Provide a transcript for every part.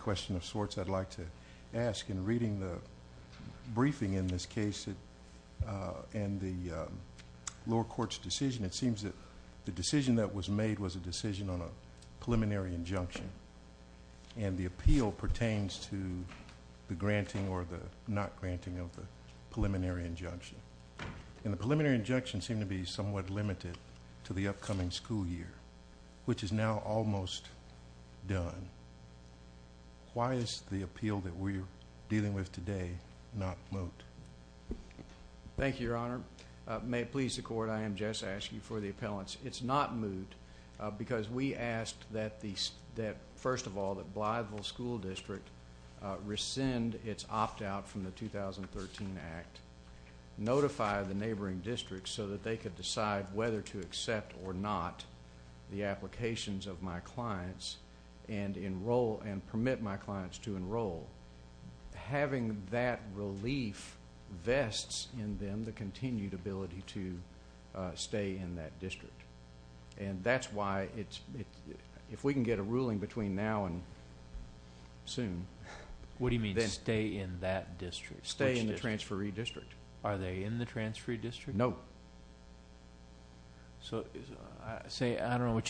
question of sorts I'd like to ask in reading the briefing in this case and the lower court's decision it seems that the decision that was made was a decision on a preliminary injunction and the appeal pertains to the granting or the not granting of the preliminary injunction and the preliminary injunction seemed to be somewhat limited to the upcoming school year which is now almost done. Why is the appeal that we're dealing with today not moved? Thank you your honor. May it please the court I am Jess Askey for the appellants. It's not moved because we asked that the that first of all that Blytheville School District rescind its opt-out from the 2013 Act, notify the neighboring district so that they could decide whether to accept or not the applications of my clients and enroll and permit my clients to enroll. Having that relief vests in them the continued ability to stay in that district and that's why it's if we can get a ruling between now and soon. What do you mean stay in that district? Stay in the transferee district. Are they in the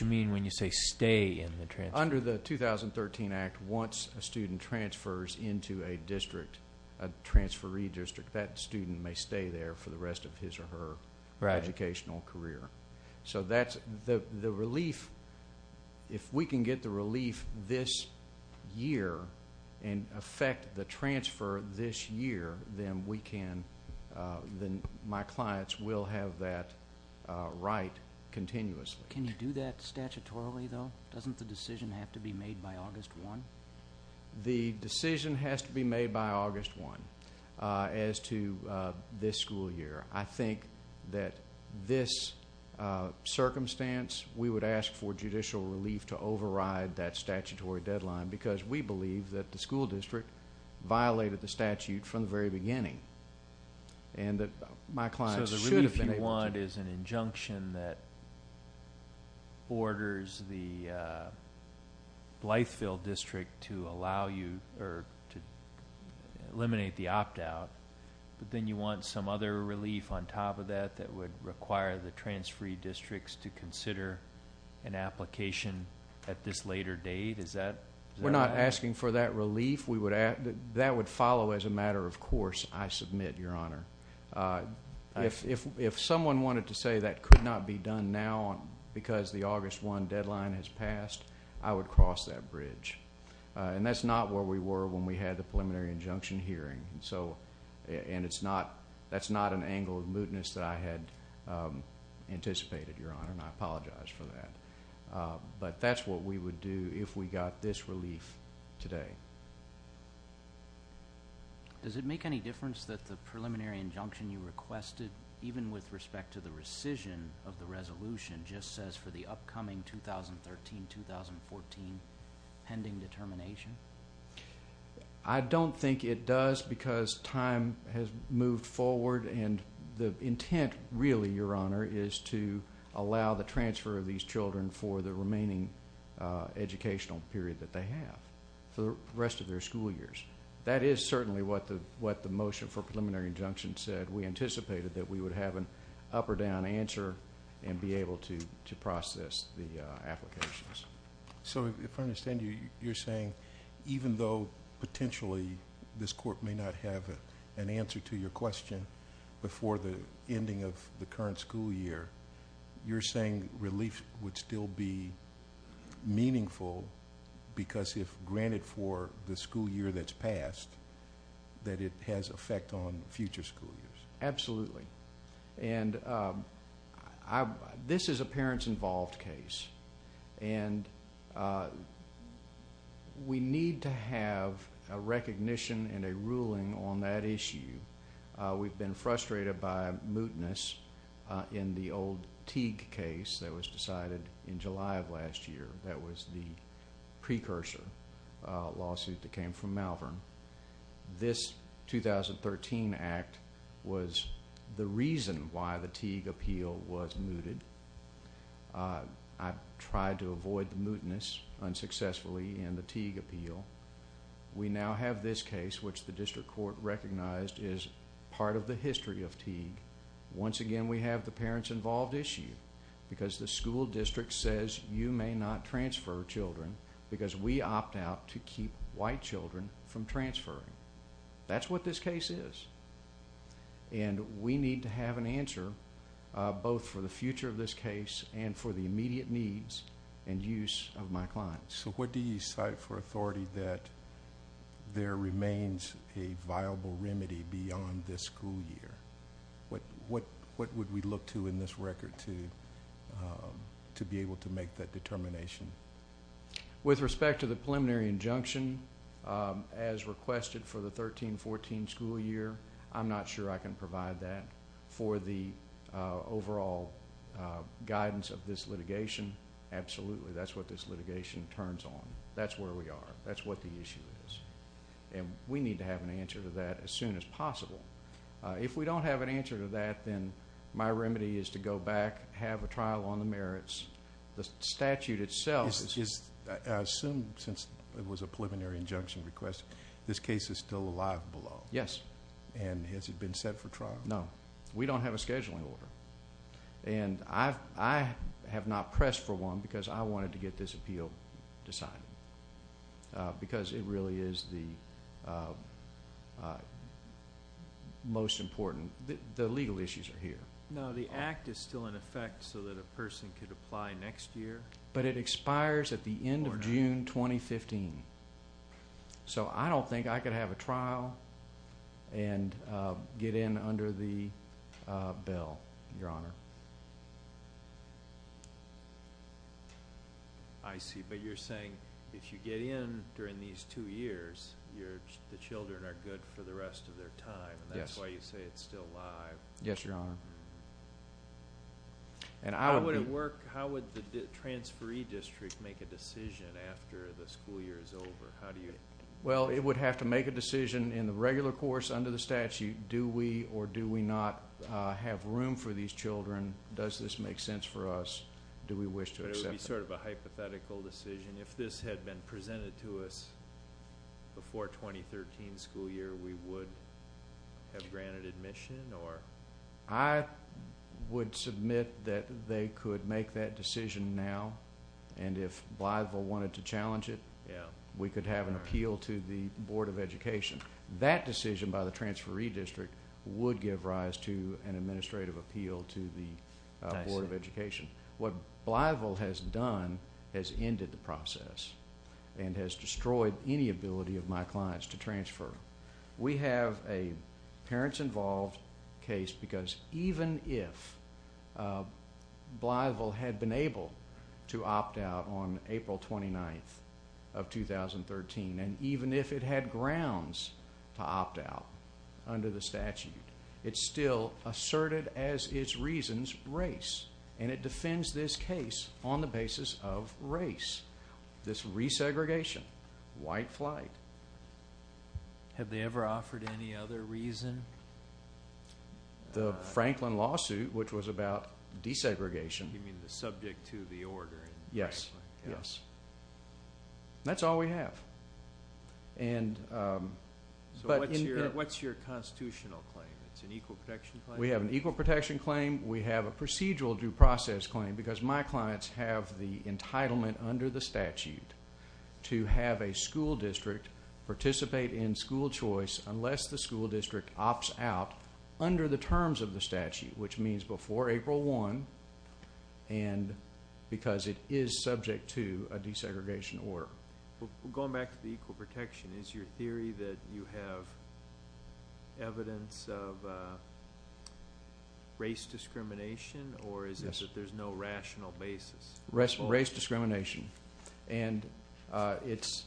mean when you say stay in the transfer? Under the 2013 Act once a student transfers into a district a transferee district that student may stay there for the rest of his or her educational career. So that's the relief if we can get the relief this year and affect the transfer this year then we can then my clients will have that right continuously. Can you do that statutorily though? Doesn't the decision have to be made by August 1? The decision has to be made by August 1 as to this school year. I think that this circumstance we would ask for judicial relief to override that statutory deadline because we believe that the school district violated the statute from the very beginning and that my clients should have been able to. So the relief you want is an injunction that orders the Blytheville district to allow you or to eliminate the opt-out but then you want some other relief on top of that that would require the transferee districts to consider an application at this later date is that? We're not asking for that relief. That would follow as a matter of course I submit your honor. If someone wanted to say that could not be done now because the August 1 deadline has passed I would cross that bridge and that's not where we were when we had the preliminary injunction hearing and so and it's not that's not an angle of mootness that I had anticipated your honor and I would not be asking for this relief today. Does it make any difference that the preliminary injunction you requested even with respect to the rescission of the resolution just says for the upcoming 2013-2014 pending determination? I don't think it does because time has moved forward and the intent really your honor is to allow the transfer of these children for the remaining educational period that they have. For the rest of their school years. That is certainly what the what the motion for preliminary injunction said we anticipated that we would have an up or down answer and be able to to process the applications. So if I understand you you're saying even though potentially this court may not have an answer to your question before the ending of the current school year you're saying relief would still be meaningful because if granted for the school year that's passed that it has effect on future school years. Absolutely and this is a parents involved case and we need to have a recognition and a ruling on that issue. We've been in July of last year that was the precursor lawsuit that came from Malvern. This 2013 act was the reason why the Teague appeal was mooted. I tried to avoid the mootness unsuccessfully in the Teague appeal. We now have this case which the district court recognized is part of the history of Teague. Once again we have the school district says you may not transfer children because we opt out to keep white children from transferring. That's what this case is and we need to have an answer both for the future of this case and for the immediate needs and use of my clients. So what do you cite for authority that there remains a viable remedy beyond this school year? What what what would we look to in this record to to be able to make that determination? With respect to the preliminary injunction as requested for the 13-14 school year I'm not sure I can provide that for the overall guidance of this litigation. Absolutely that's what this litigation turns on. That's where we are. That's what the issue is and we need to have an answer to that as soon as possible. If we don't have an answer to that then my remedy is to go back have a trial on the merits. The statute itself is assumed since it was a preliminary injunction request this case is still alive below. Yes. And has it been set for trial? No. We don't have a scheduling order and I have not pressed for one because I wanted to get this appeal decided because it really is the most important. The legal issues are here. Now the act is still in effect so that a person could apply next year? But it expires at the end of June 2015. So I don't think I could have a trial and get in under the bill your honor. I see but you're saying if you get in during these two years you're the children are good for the rest of their time that's why you say it's still live. Yes your honor. And how would it work how would the transferee district make a decision after the school year is over? How do you? Well it would have to make a decision in the regular course under the statute do we or do we not have room for these children does this make sense for us do we wish to accept? It would be sort of a hypothetical decision if this had been presented to us before 2013 school year we would have granted admission or? I would submit that they could make that decision now and if Blytheville wanted to challenge it yeah we could have an appeal to the Board of Education. That decision by the transferee district would give rise to an administrative appeal to the Board of Education. What Blytheville has done has ended the process and has destroyed any ability of my clients to transfer. We have a parents involved case because even if Blytheville had been able to opt out on under the statute it's still asserted as its reasons race and it defends this case on the basis of race this resegregation white flight. Have they ever offered any other reason? The Franklin lawsuit which was about desegregation. You mean the subject to the order? Yes yes that's all we have and but what's your constitutional claim? It's an equal protection. We have an equal protection claim. We have a procedural due process claim because my clients have the entitlement under the statute to have a school district participate in school choice unless the school district opts out under the terms of the statute which means before April 1 and because it is subject to a theory that you have evidence of race discrimination or is it that there's no rational basis? Race discrimination and it's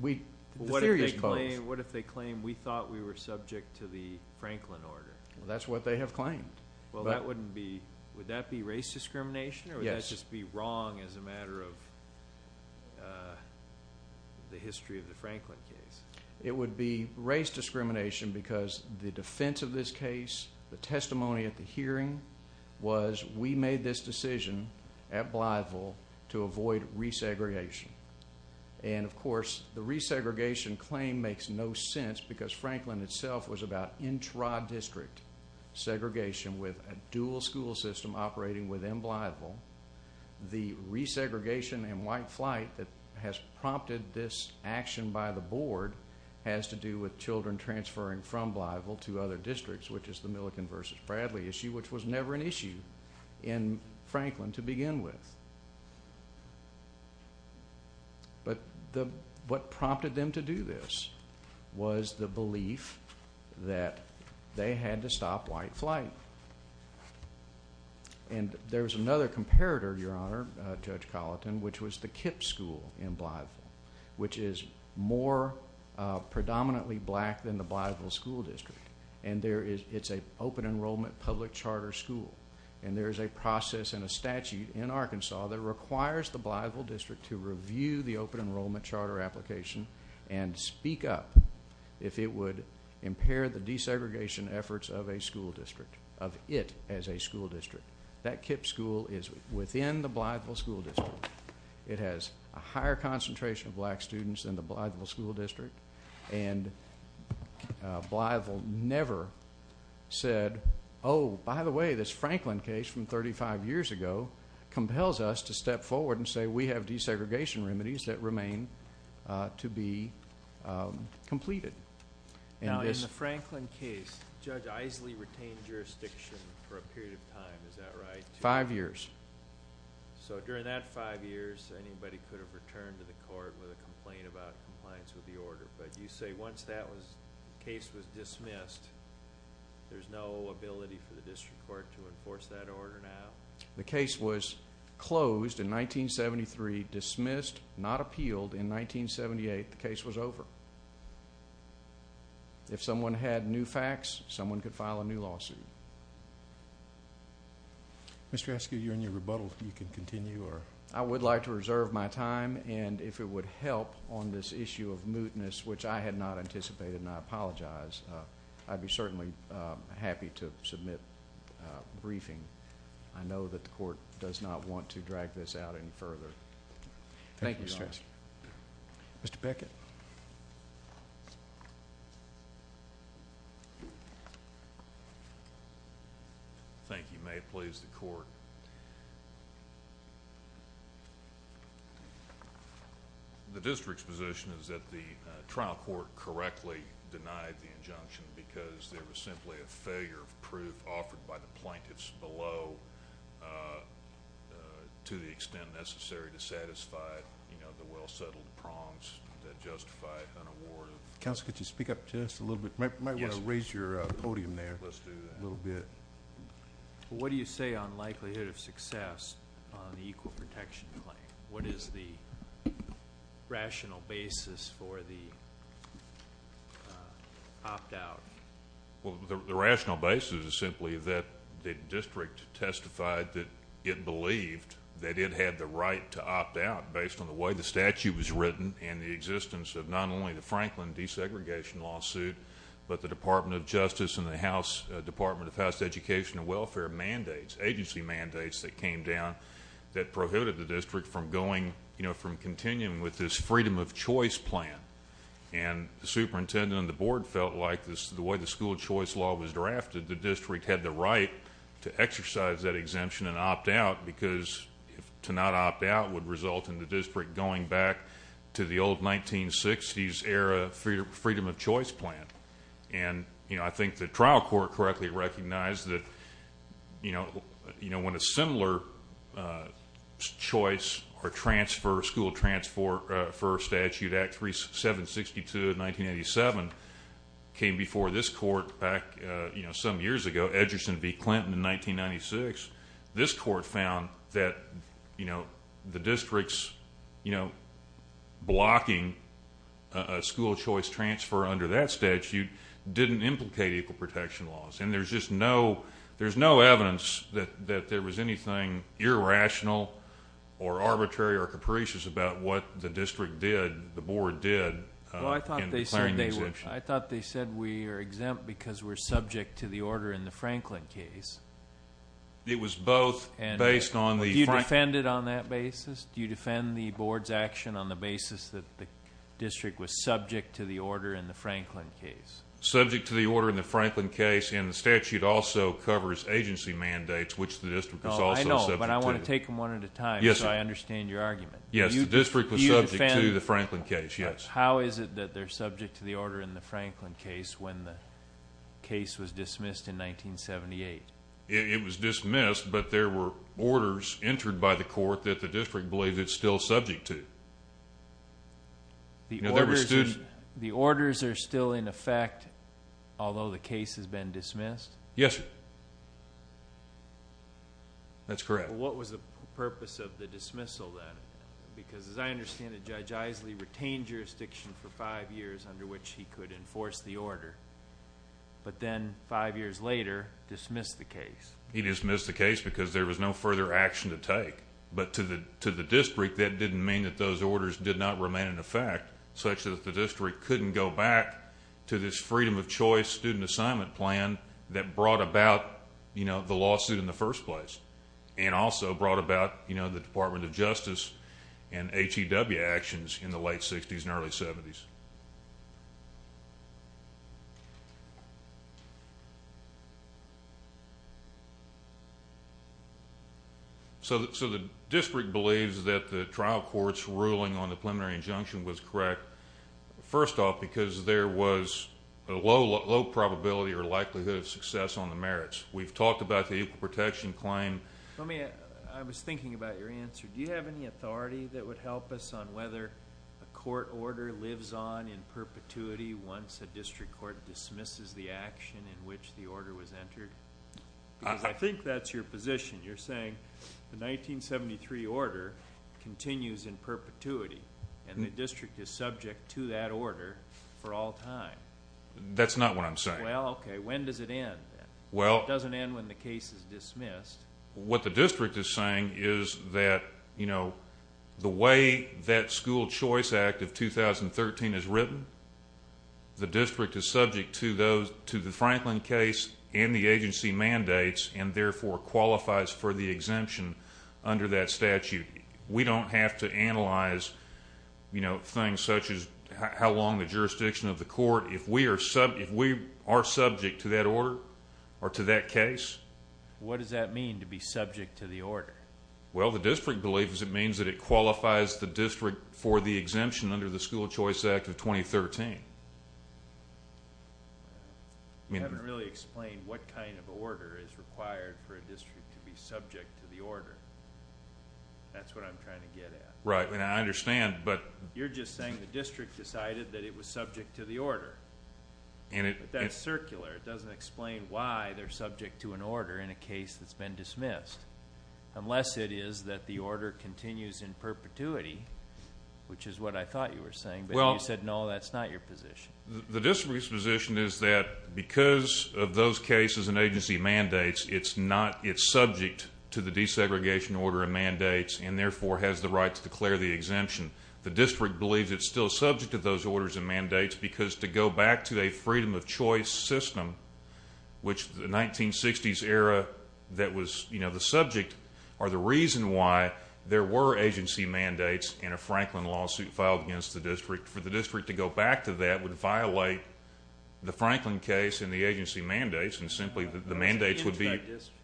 we what if they claim we thought we were subject to the Franklin order. That's what they have claimed. Well that wouldn't be would that be race discrimination or would that just be wrong as a It would be race discrimination because the defense of this case the testimony at the hearing was we made this decision at Blythville to avoid resegregation and of course the resegregation claim makes no sense because Franklin itself was about intra district segregation with a dual school system operating within Blythville. The resegregation and white flight that has prompted this action by the board has to do with children transferring from Blythville to other districts which is the Millican versus Bradley issue which was never an issue in Franklin to begin with. But what prompted them to do this was the belief that they had to stop white flight and there's another comparator your honor Judge Colleton which was the KIPP school in Blythville which is more predominantly black than the Blythville school district and there is it's a open enrollment public charter school and there's a process and a statute in Arkansas that requires the Blythville district to review the open enrollment charter application and speak up if it would impair the desegregation efforts of a school district of it as a school district. That KIPP school is within the Blythville school district. It has a higher concentration of black students than the Blythville school district and Blythville never said oh by the way this Franklin case from 35 years ago compels us to step forward and say we have desegregation remedies that remain to be completed. Now in the Franklin case Judge Eiseley retained jurisdiction for a period of time is that right? Five years. So during that five years anybody could have returned to the court with a complaint about compliance with the order but you say once that was case was dismissed there's no ability for the district court to enforce that order now? The case was closed in 1973 dismissed not appealed in 1978 the case was over. If someone had new facts someone could file a new lawsuit. Mr. Eskew, you're in your rebuttal. You can continue. I would like to reserve my time and if it would help on this issue of mootness which I had not anticipated and I apologize I'd be certainly happy to submit briefing. I Thank you, Mr. Eskew. Mr. Bickett. Thank you. May it please the court. The district's position is that the trial court correctly denied the injunction because there was simply a failure of proof offered by the well-settled prongs that justify an award. Counselor, could you speak up just a little bit? Might want to raise your podium there a little bit. What do you say on likelihood of success on the equal protection claim? What is the rational basis for the opt-out? Well the rational basis is simply that the district testified that it believed that it had the right to opt out based on the way the statute was written and the existence of not only the Franklin desegregation lawsuit but the Department of Justice and the House Department of House Education and Welfare mandates agency mandates that came down that prohibited the district from going you know from continuing with this freedom of choice plan and the superintendent and the board felt like this the way the school choice law was drafted the district had the right to exercise that exemption and opt out because if to not opt out would result in the district going back to the old 1960s era for your freedom of choice plan and you know I think the trial court correctly recognized that you know you know when a similar choice or transfer school transfer for statute at 3762 in 1987 came before this court back you know some years ago Edgerson v. Clinton in 1996 this court found that you know the district's you know blocking a school choice transfer under that statute didn't implicate equal protection laws and there's just no there's no evidence that that there was anything irrational or arbitrary or capricious about what the district did the board did. Well I thought they said we are exempt because we're subject to the order in the Franklin case. It was both and based on the you defended on that basis do you defend the board's action on the basis that the district was subject to the order in the Franklin case? Subject to the order in the Franklin case and the statute also covers agency mandates which the district is also subject to. I know but I want to take them one at a time yes I understand your argument. Yes the district was subject to the order in the Franklin case when the case was dismissed in 1978. It was dismissed but there were orders entered by the court that the district believed it's still subject to. The orders are still in effect although the case has been dismissed? Yes that's correct. What was the purpose of the dismissal then because as I understand it Judge Isley retained jurisdiction for five years under which he could enforce the order but then five years later dismissed the case. He dismissed the case because there was no further action to take but to the to the district that didn't mean that those orders did not remain in effect such that the district couldn't go back to this freedom of choice student assignment plan that brought about you know the lawsuit in the first place and also brought about you know the Department of Justice and the Department of Justice. So the district believes that the trial court's ruling on the preliminary injunction was correct. First off because there was a low probability or likelihood of success on the merits. We've talked about the equal protection claim. Let me I was thinking about your answer. Do you have any authority that lives on in perpetuity once a district court dismisses the action in which the order was entered? I think that's your position. You're saying the 1973 order continues in perpetuity and the district is subject to that order for all time. That's not what I'm saying. Well okay when does it end? Well it doesn't end when the case is dismissed. What the district is saying is that you know the way that school choice act of 2013 is written, the district is subject to those to the Franklin case and the agency mandates and therefore qualifies for the exemption under that statute. We don't have to analyze you know things such as how long the jurisdiction of the court if we are subject to that order or to that case. What does that mean to be subject to the order? Well the district believes it means that it qualifies the district for the exemption under the school choice act of 2013. You haven't really explained what kind of order is required for a district to be subject to the order. That's what I'm trying to get at. Right and I understand but you're just saying the district decided that it was subject to the order and it that's circular it doesn't explain why they're dismissed unless it is that the order continues in perpetuity which is what I thought you were saying. Well you said no that's not your position. The district's position is that because of those cases and agency mandates it's not it's subject to the desegregation order and mandates and therefore has the right to declare the exemption. The district believes it's still subject to those orders and mandates because to go back to a freedom of choice system which the 1960s era that was you know the subject or the reason why there were agency mandates in a Franklin lawsuit filed against the district for the district to go back to that would violate the Franklin case in the agency mandates and simply the mandates would be.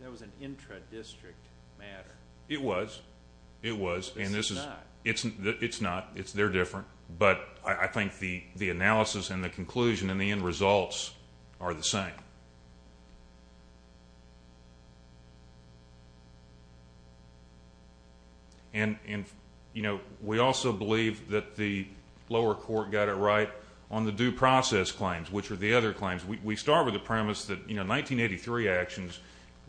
That was an intra-district matter. It was it was and this is it's not it's they're different but I think the the analysis and the conclusion and the results are the same. And you know we also believe that the lower court got it right on the due process claims which are the other claims. We start with the premise that you know 1983 actions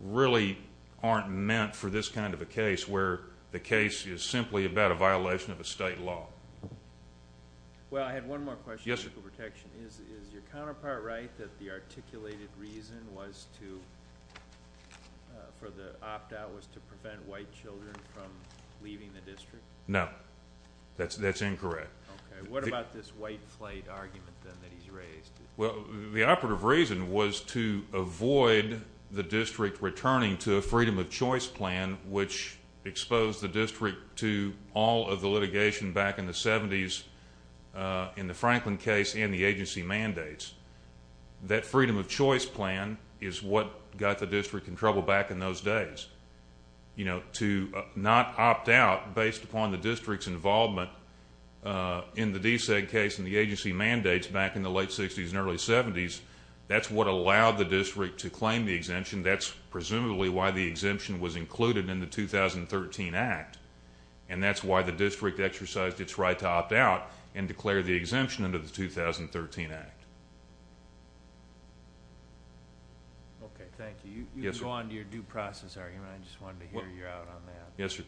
really aren't meant for this kind of a case where the case is simply about a violation of a state law. Well I had one more question. Yes. Is your counterpart right that the articulated reason was to for the opt-out was to prevent white children from leaving the district? No that's that's incorrect. What about this white flight argument that he's raised? Well the operative reason was to avoid the district returning to a freedom of choice plan which exposed the district to all of the litigation back in the seventies in the Franklin case in the agency mandates. That freedom of choice plan is what got the district in trouble back in those days. You know to not opt out based upon the district's involvement in the DSEG case in the agency mandates back in the late sixties and early seventies. That's what allowed the district to claim the exemption. That's presumably why the exemption was included in the 2013 act and that's why the district exercised its right to opt out and declare the exemption under the 2013 act. Ok thank you. You can go on to your due process argument. I just wanted to hear you out on that. Yes sir.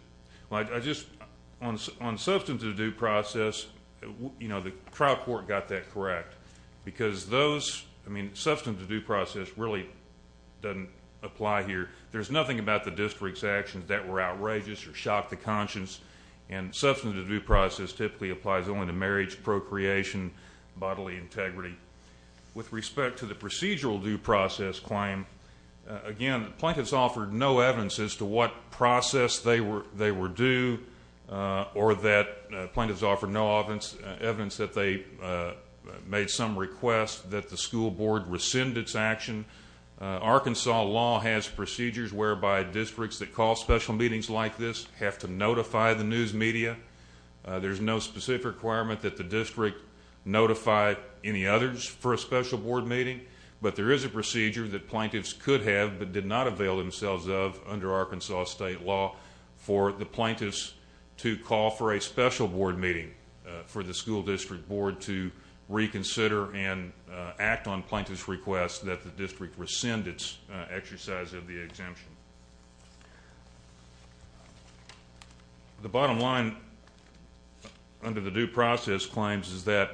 Well I just on substance of due process you know the trial court got that correct because those I mean substance of due process really doesn't apply here. There's nothing about the district's actions that were outrageous or shocked the conscience and substance of due process typically applies only to marriage, procreation, bodily integrity. With respect to the procedural due process claim, again plaintiffs offered no evidence as to what process they were they were due or that plaintiffs offered no evidence that they made some request that the school board rescind its action. Arkansas law has procedures whereby districts that call special meetings like this have to notify the news media. There's no specific requirement that the district notify any others for a special board meeting but there is a procedure that plaintiffs could have but did not avail themselves of under Arkansas state law for the plaintiffs to call for a special board meeting for the school district board to reconsider and act on plaintiffs request that the district rescind its exercise of the exemption. The bottom line under the due process claims is that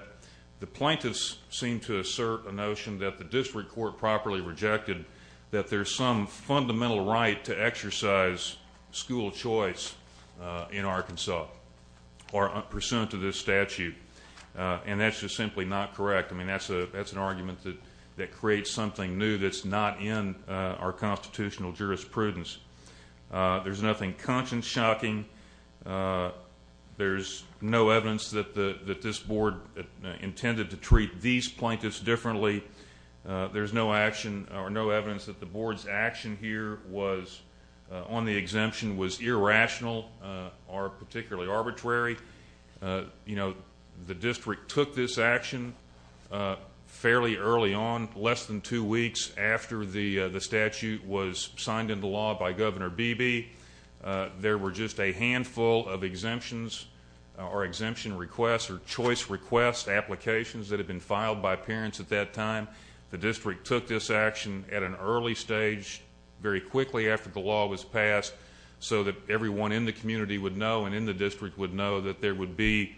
the plaintiffs seem to assert a notion that the district court properly rejected that there's some fundamental right to exercise school choice in Arkansas or pursuant to this statute and that's just simply not correct. I mean that's an argument that that creates something new that's not in our constitutional jurisprudence. There's nothing conscience shocking. There's no evidence that the that this board intended to treat these plaintiffs differently. There's no action or no evidence that the board's action here was on the exemption was irrational or particularly arbitrary. You know the district took this action fairly early on less than two weeks after the the statute was signed into law by Governor Beebe. There were just a handful of exemptions or exemption requests or choice request applications that have been filed by parents at that time. The district took this action at an early stage very quickly after the law was passed. The community would know and in the district would know that there would be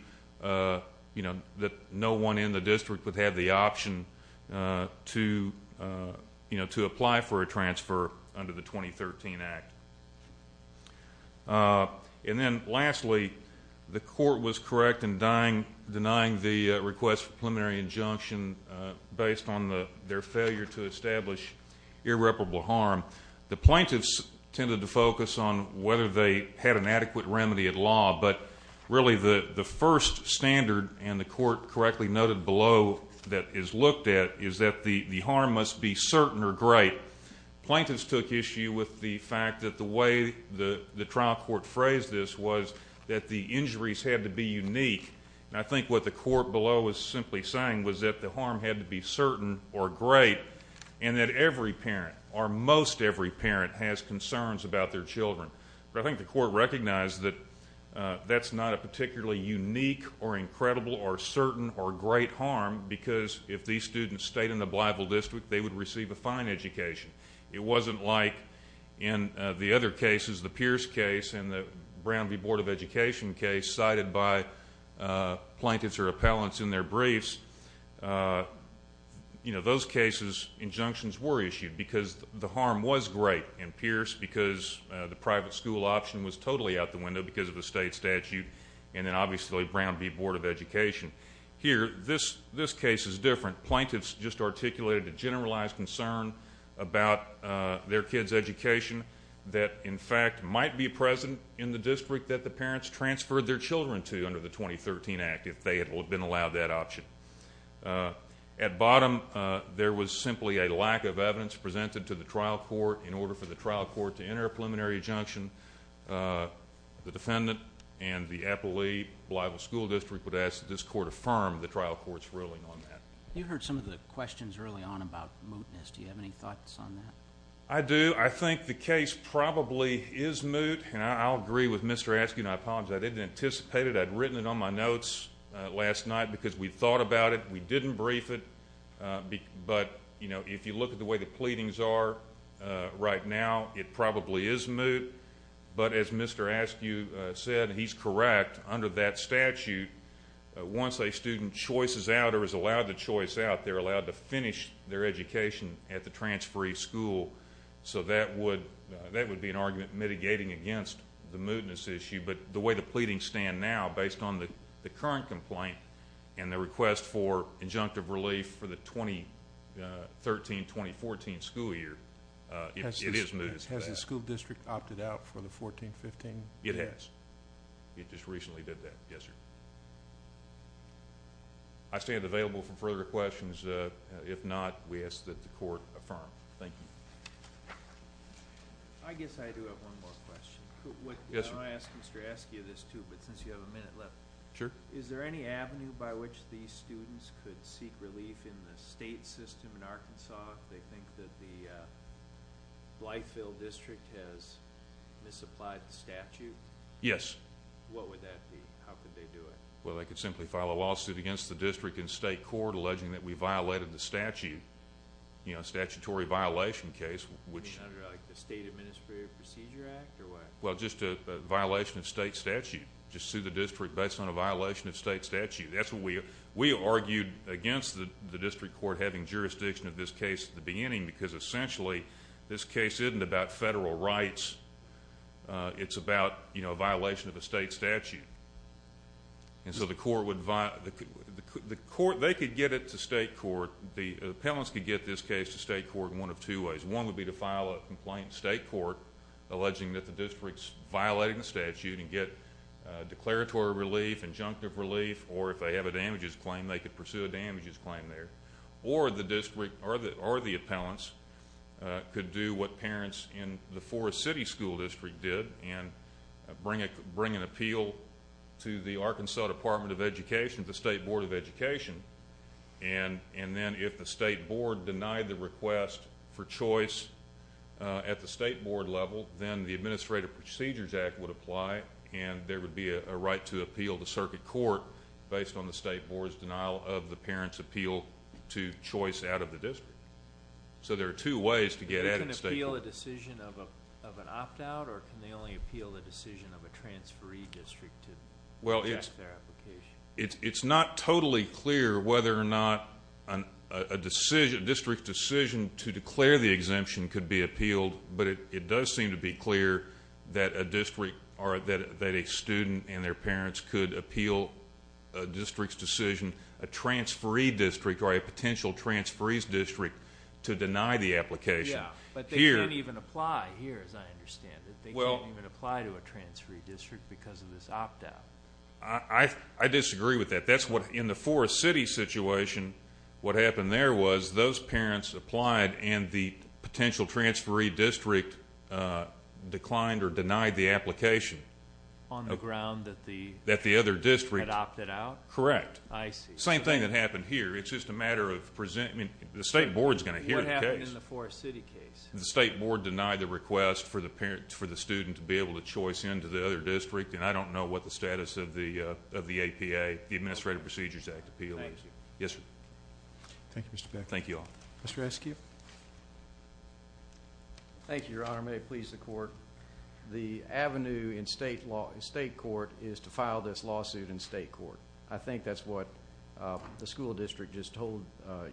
you know that no one in the district would have the option to you know to apply for a transfer under the 2013 Act. And then lastly the court was correct in denying the request for preliminary injunction based on the their failure to establish irreparable harm. The plaintiffs tended to focus on whether they had an adequate remedy at law but really the the first standard and the court correctly noted below that is looked at is that the the harm must be certain or great. Plaintiffs took issue with the fact that the way the the trial court phrased this was that the injuries had to be unique. I think what the court below is simply saying was that the harm had to be certain or great and that every parent or most every parent has concerns about their children. I think the court recognized that that's not a particularly unique or incredible or certain or great harm because if these students stayed in the Blytheville district they would receive a fine education. It wasn't like in the other cases the Pierce case and the Brown v. Board of Education case cited by plaintiffs or appellants in their briefs. You know those cases injunctions were private school option was totally out the window because of the state statute and then obviously Brown v. Board of Education. Here this this case is different. Plaintiffs just articulated a generalized concern about their kids education that in fact might be present in the district that the parents transferred their children to under the 2013 act if they had been allowed that option. At bottom there was simply a lack of evidence presented to the trial court in order for the trial court to enter a preliminary injunction. The defendant and the appellee Blytheville School District would ask that this court affirm the trial court's ruling on that. You heard some of the questions early on about mootness. Do you have any thoughts on that? I do. I think the case probably is moot and I'll agree with Mr. Askew and I apologize. I didn't anticipate it. I'd written it on my notes last night because we thought about it. We didn't brief it but you know if you look at the way the case is handled right now it probably is moot. But as Mr. Askew said he's correct under that statute once a student choices out or is allowed the choice out they're allowed to finish their education at the transferee school. So that would that would be an argument mitigating against the mootness issue but the way the pleadings stand now based on the current complaint and the request for injunctive relief for the 2013-2014 school year it is moot. Has the school district opted out for the 14-15? It has. It just recently did that. Yes sir. I stand available for further questions if not we ask that the court affirm. Thank you. I guess I do have one more question. Yes sir. I want to ask Mr. Askew this too but since you have a minute left. Sure. Is there any avenue by which these students could seek relief in the state system in Arkansas if they think that the Blytheville District has misapplied the statute? Yes. What would that be? How could they do it? Well they could simply file a lawsuit against the district and state court alleging that we violated the statute. You know statutory violation case which. You mean under like the State Administrative Procedure Act or what? Well just a violation of state statute. Just sue the district based on a violation of state statute. That's what we we argued against the district court having jurisdiction of this case at the beginning because essentially this case isn't about federal rights. It's about you know a violation of the state statute. And so the court would violate. The court they could get it to state court. The appellants could get this case to state court in one of two ways. One would be to file a complaint state court alleging that the district's violating the statute and get declaratory relief, injunctive relief, or if they have a damages claim there. Or the district or the or the appellants could do what parents in the Forest City School District did and bring it bring an appeal to the Arkansas Department of Education, the State Board of Education. And and then if the state board denied the request for choice at the state board level then the Administrative Procedures Act would apply and there would be a right to appeal the circuit court based on the state board's denial of the parents appeal to choice out of the district. So there are two ways to get at it. Can they appeal a decision of an opt-out or can they only appeal the decision of a transferee district to reject their application? Well it's it's not totally clear whether or not a decision district decision to declare the exemption could be appealed but it does seem to be clear that a district or that a student and their parents could appeal a district's decision, a transferee district or a potential transferees district to deny the application. Yeah, but they don't even apply here as I understand it. They don't even apply to a transferee district because of this opt-out. I disagree with that. That's what in the Forest City situation what happened there was those parents applied and the potential transferee district declined or denied the that the other district had opted out? Correct. I see. Same thing that happened here it's just a matter of presenting the state board's going to hear the case. What happened in the Forest City case? The state board denied the request for the parents for the student to be able to choice into the other district and I don't know what the status of the of the APA, the Administrative Procedures Act appeal is. Thank you. Yes sir. Thank you Mr. Beck. Thank you all. Mr. Eskew. Thank you your honor may it please the this lawsuit in state court I think that's what the school district just told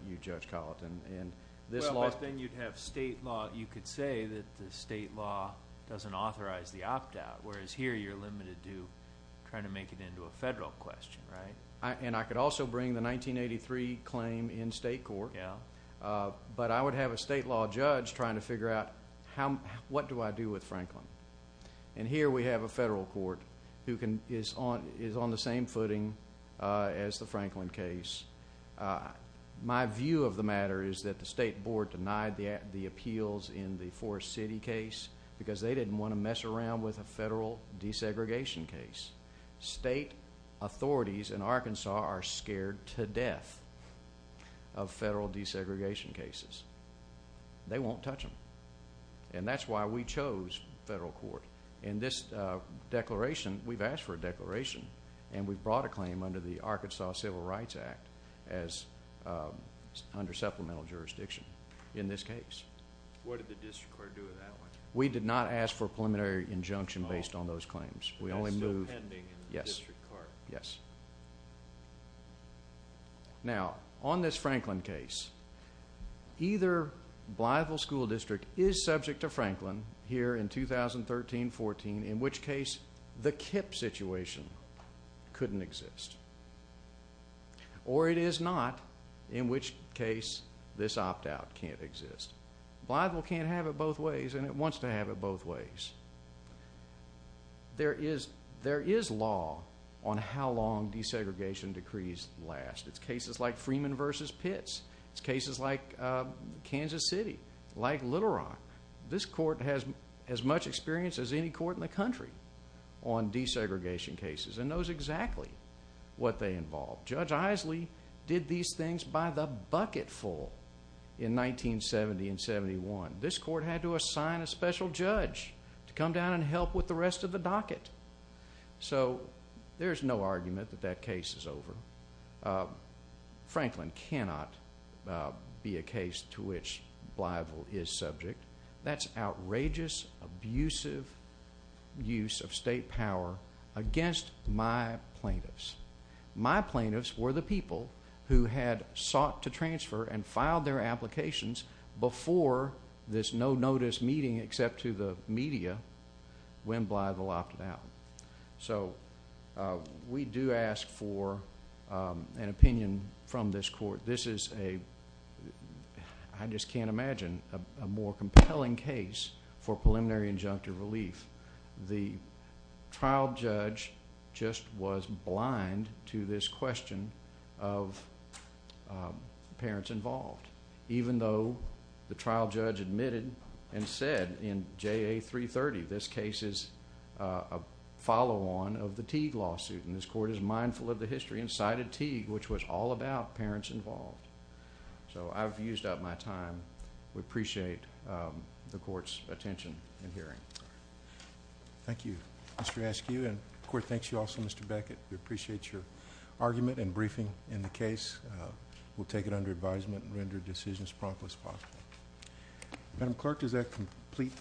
you Judge Colleton and this law then you'd have state law you could say that the state law doesn't authorize the opt-out whereas here you're limited to trying to make it into a federal question right and I could also bring the 1983 claim in state court yeah but I would have a state law judge trying to figure out how what do I do with Franklin and here we have a federal court who can is on is on the same footing as the Franklin case. My view of the matter is that the state board denied the appeals in the Forest City case because they didn't want to mess around with a federal desegregation case. State authorities in Arkansas are scared to death of federal desegregation cases. They won't touch them and that's why we chose federal court in this declaration we've asked for a declaration and we've brought a claim under the Arkansas Civil Rights Act as under supplemental jurisdiction in this case. What did the district court do with that one? We did not ask for a preliminary injunction based on those either Blytheville School District is subject to Franklin here in 2013-14 in which case the KIPP situation couldn't exist or it is not in which case this opt-out can't exist. Blytheville can't have it both ways and it wants to have it both ways. There is there is law on how long desegregation decrees last. It's cases like Freeman versus Pitts. It's cases like Kansas City, like Little Rock. This court has as much experience as any court in the country on desegregation cases and knows exactly what they involve. Judge Isley did these things by the bucket full in 1970 and 71. This court had to assign a special judge to come down and help with the desegregation. It cannot be a case to which Blytheville is subject. That's outrageous, abusive use of state power against my plaintiffs. My plaintiffs were the people who had sought to transfer and filed their applications before this no-notice meeting except to the media when Blytheville opted out. We do ask for an opinion from this court. This is a, I just can't imagine, a more compelling case for preliminary injunctive relief. The trial judge just was blind to this question of parents involved even though the trial judge admitted and said in JA 330 this case is a follow-on of the Teague lawsuit. This court is mindful of the history and cited Teague which was all about parents involved. So I've used up my time. We appreciate the court's attention and hearing. Thank you Mr. Askew and the court thanks you also Mr. Beckett. We appreciate your argument and briefing in the case. We'll take it under advisement and render decisions prompt as possible. Madam clerk does that complete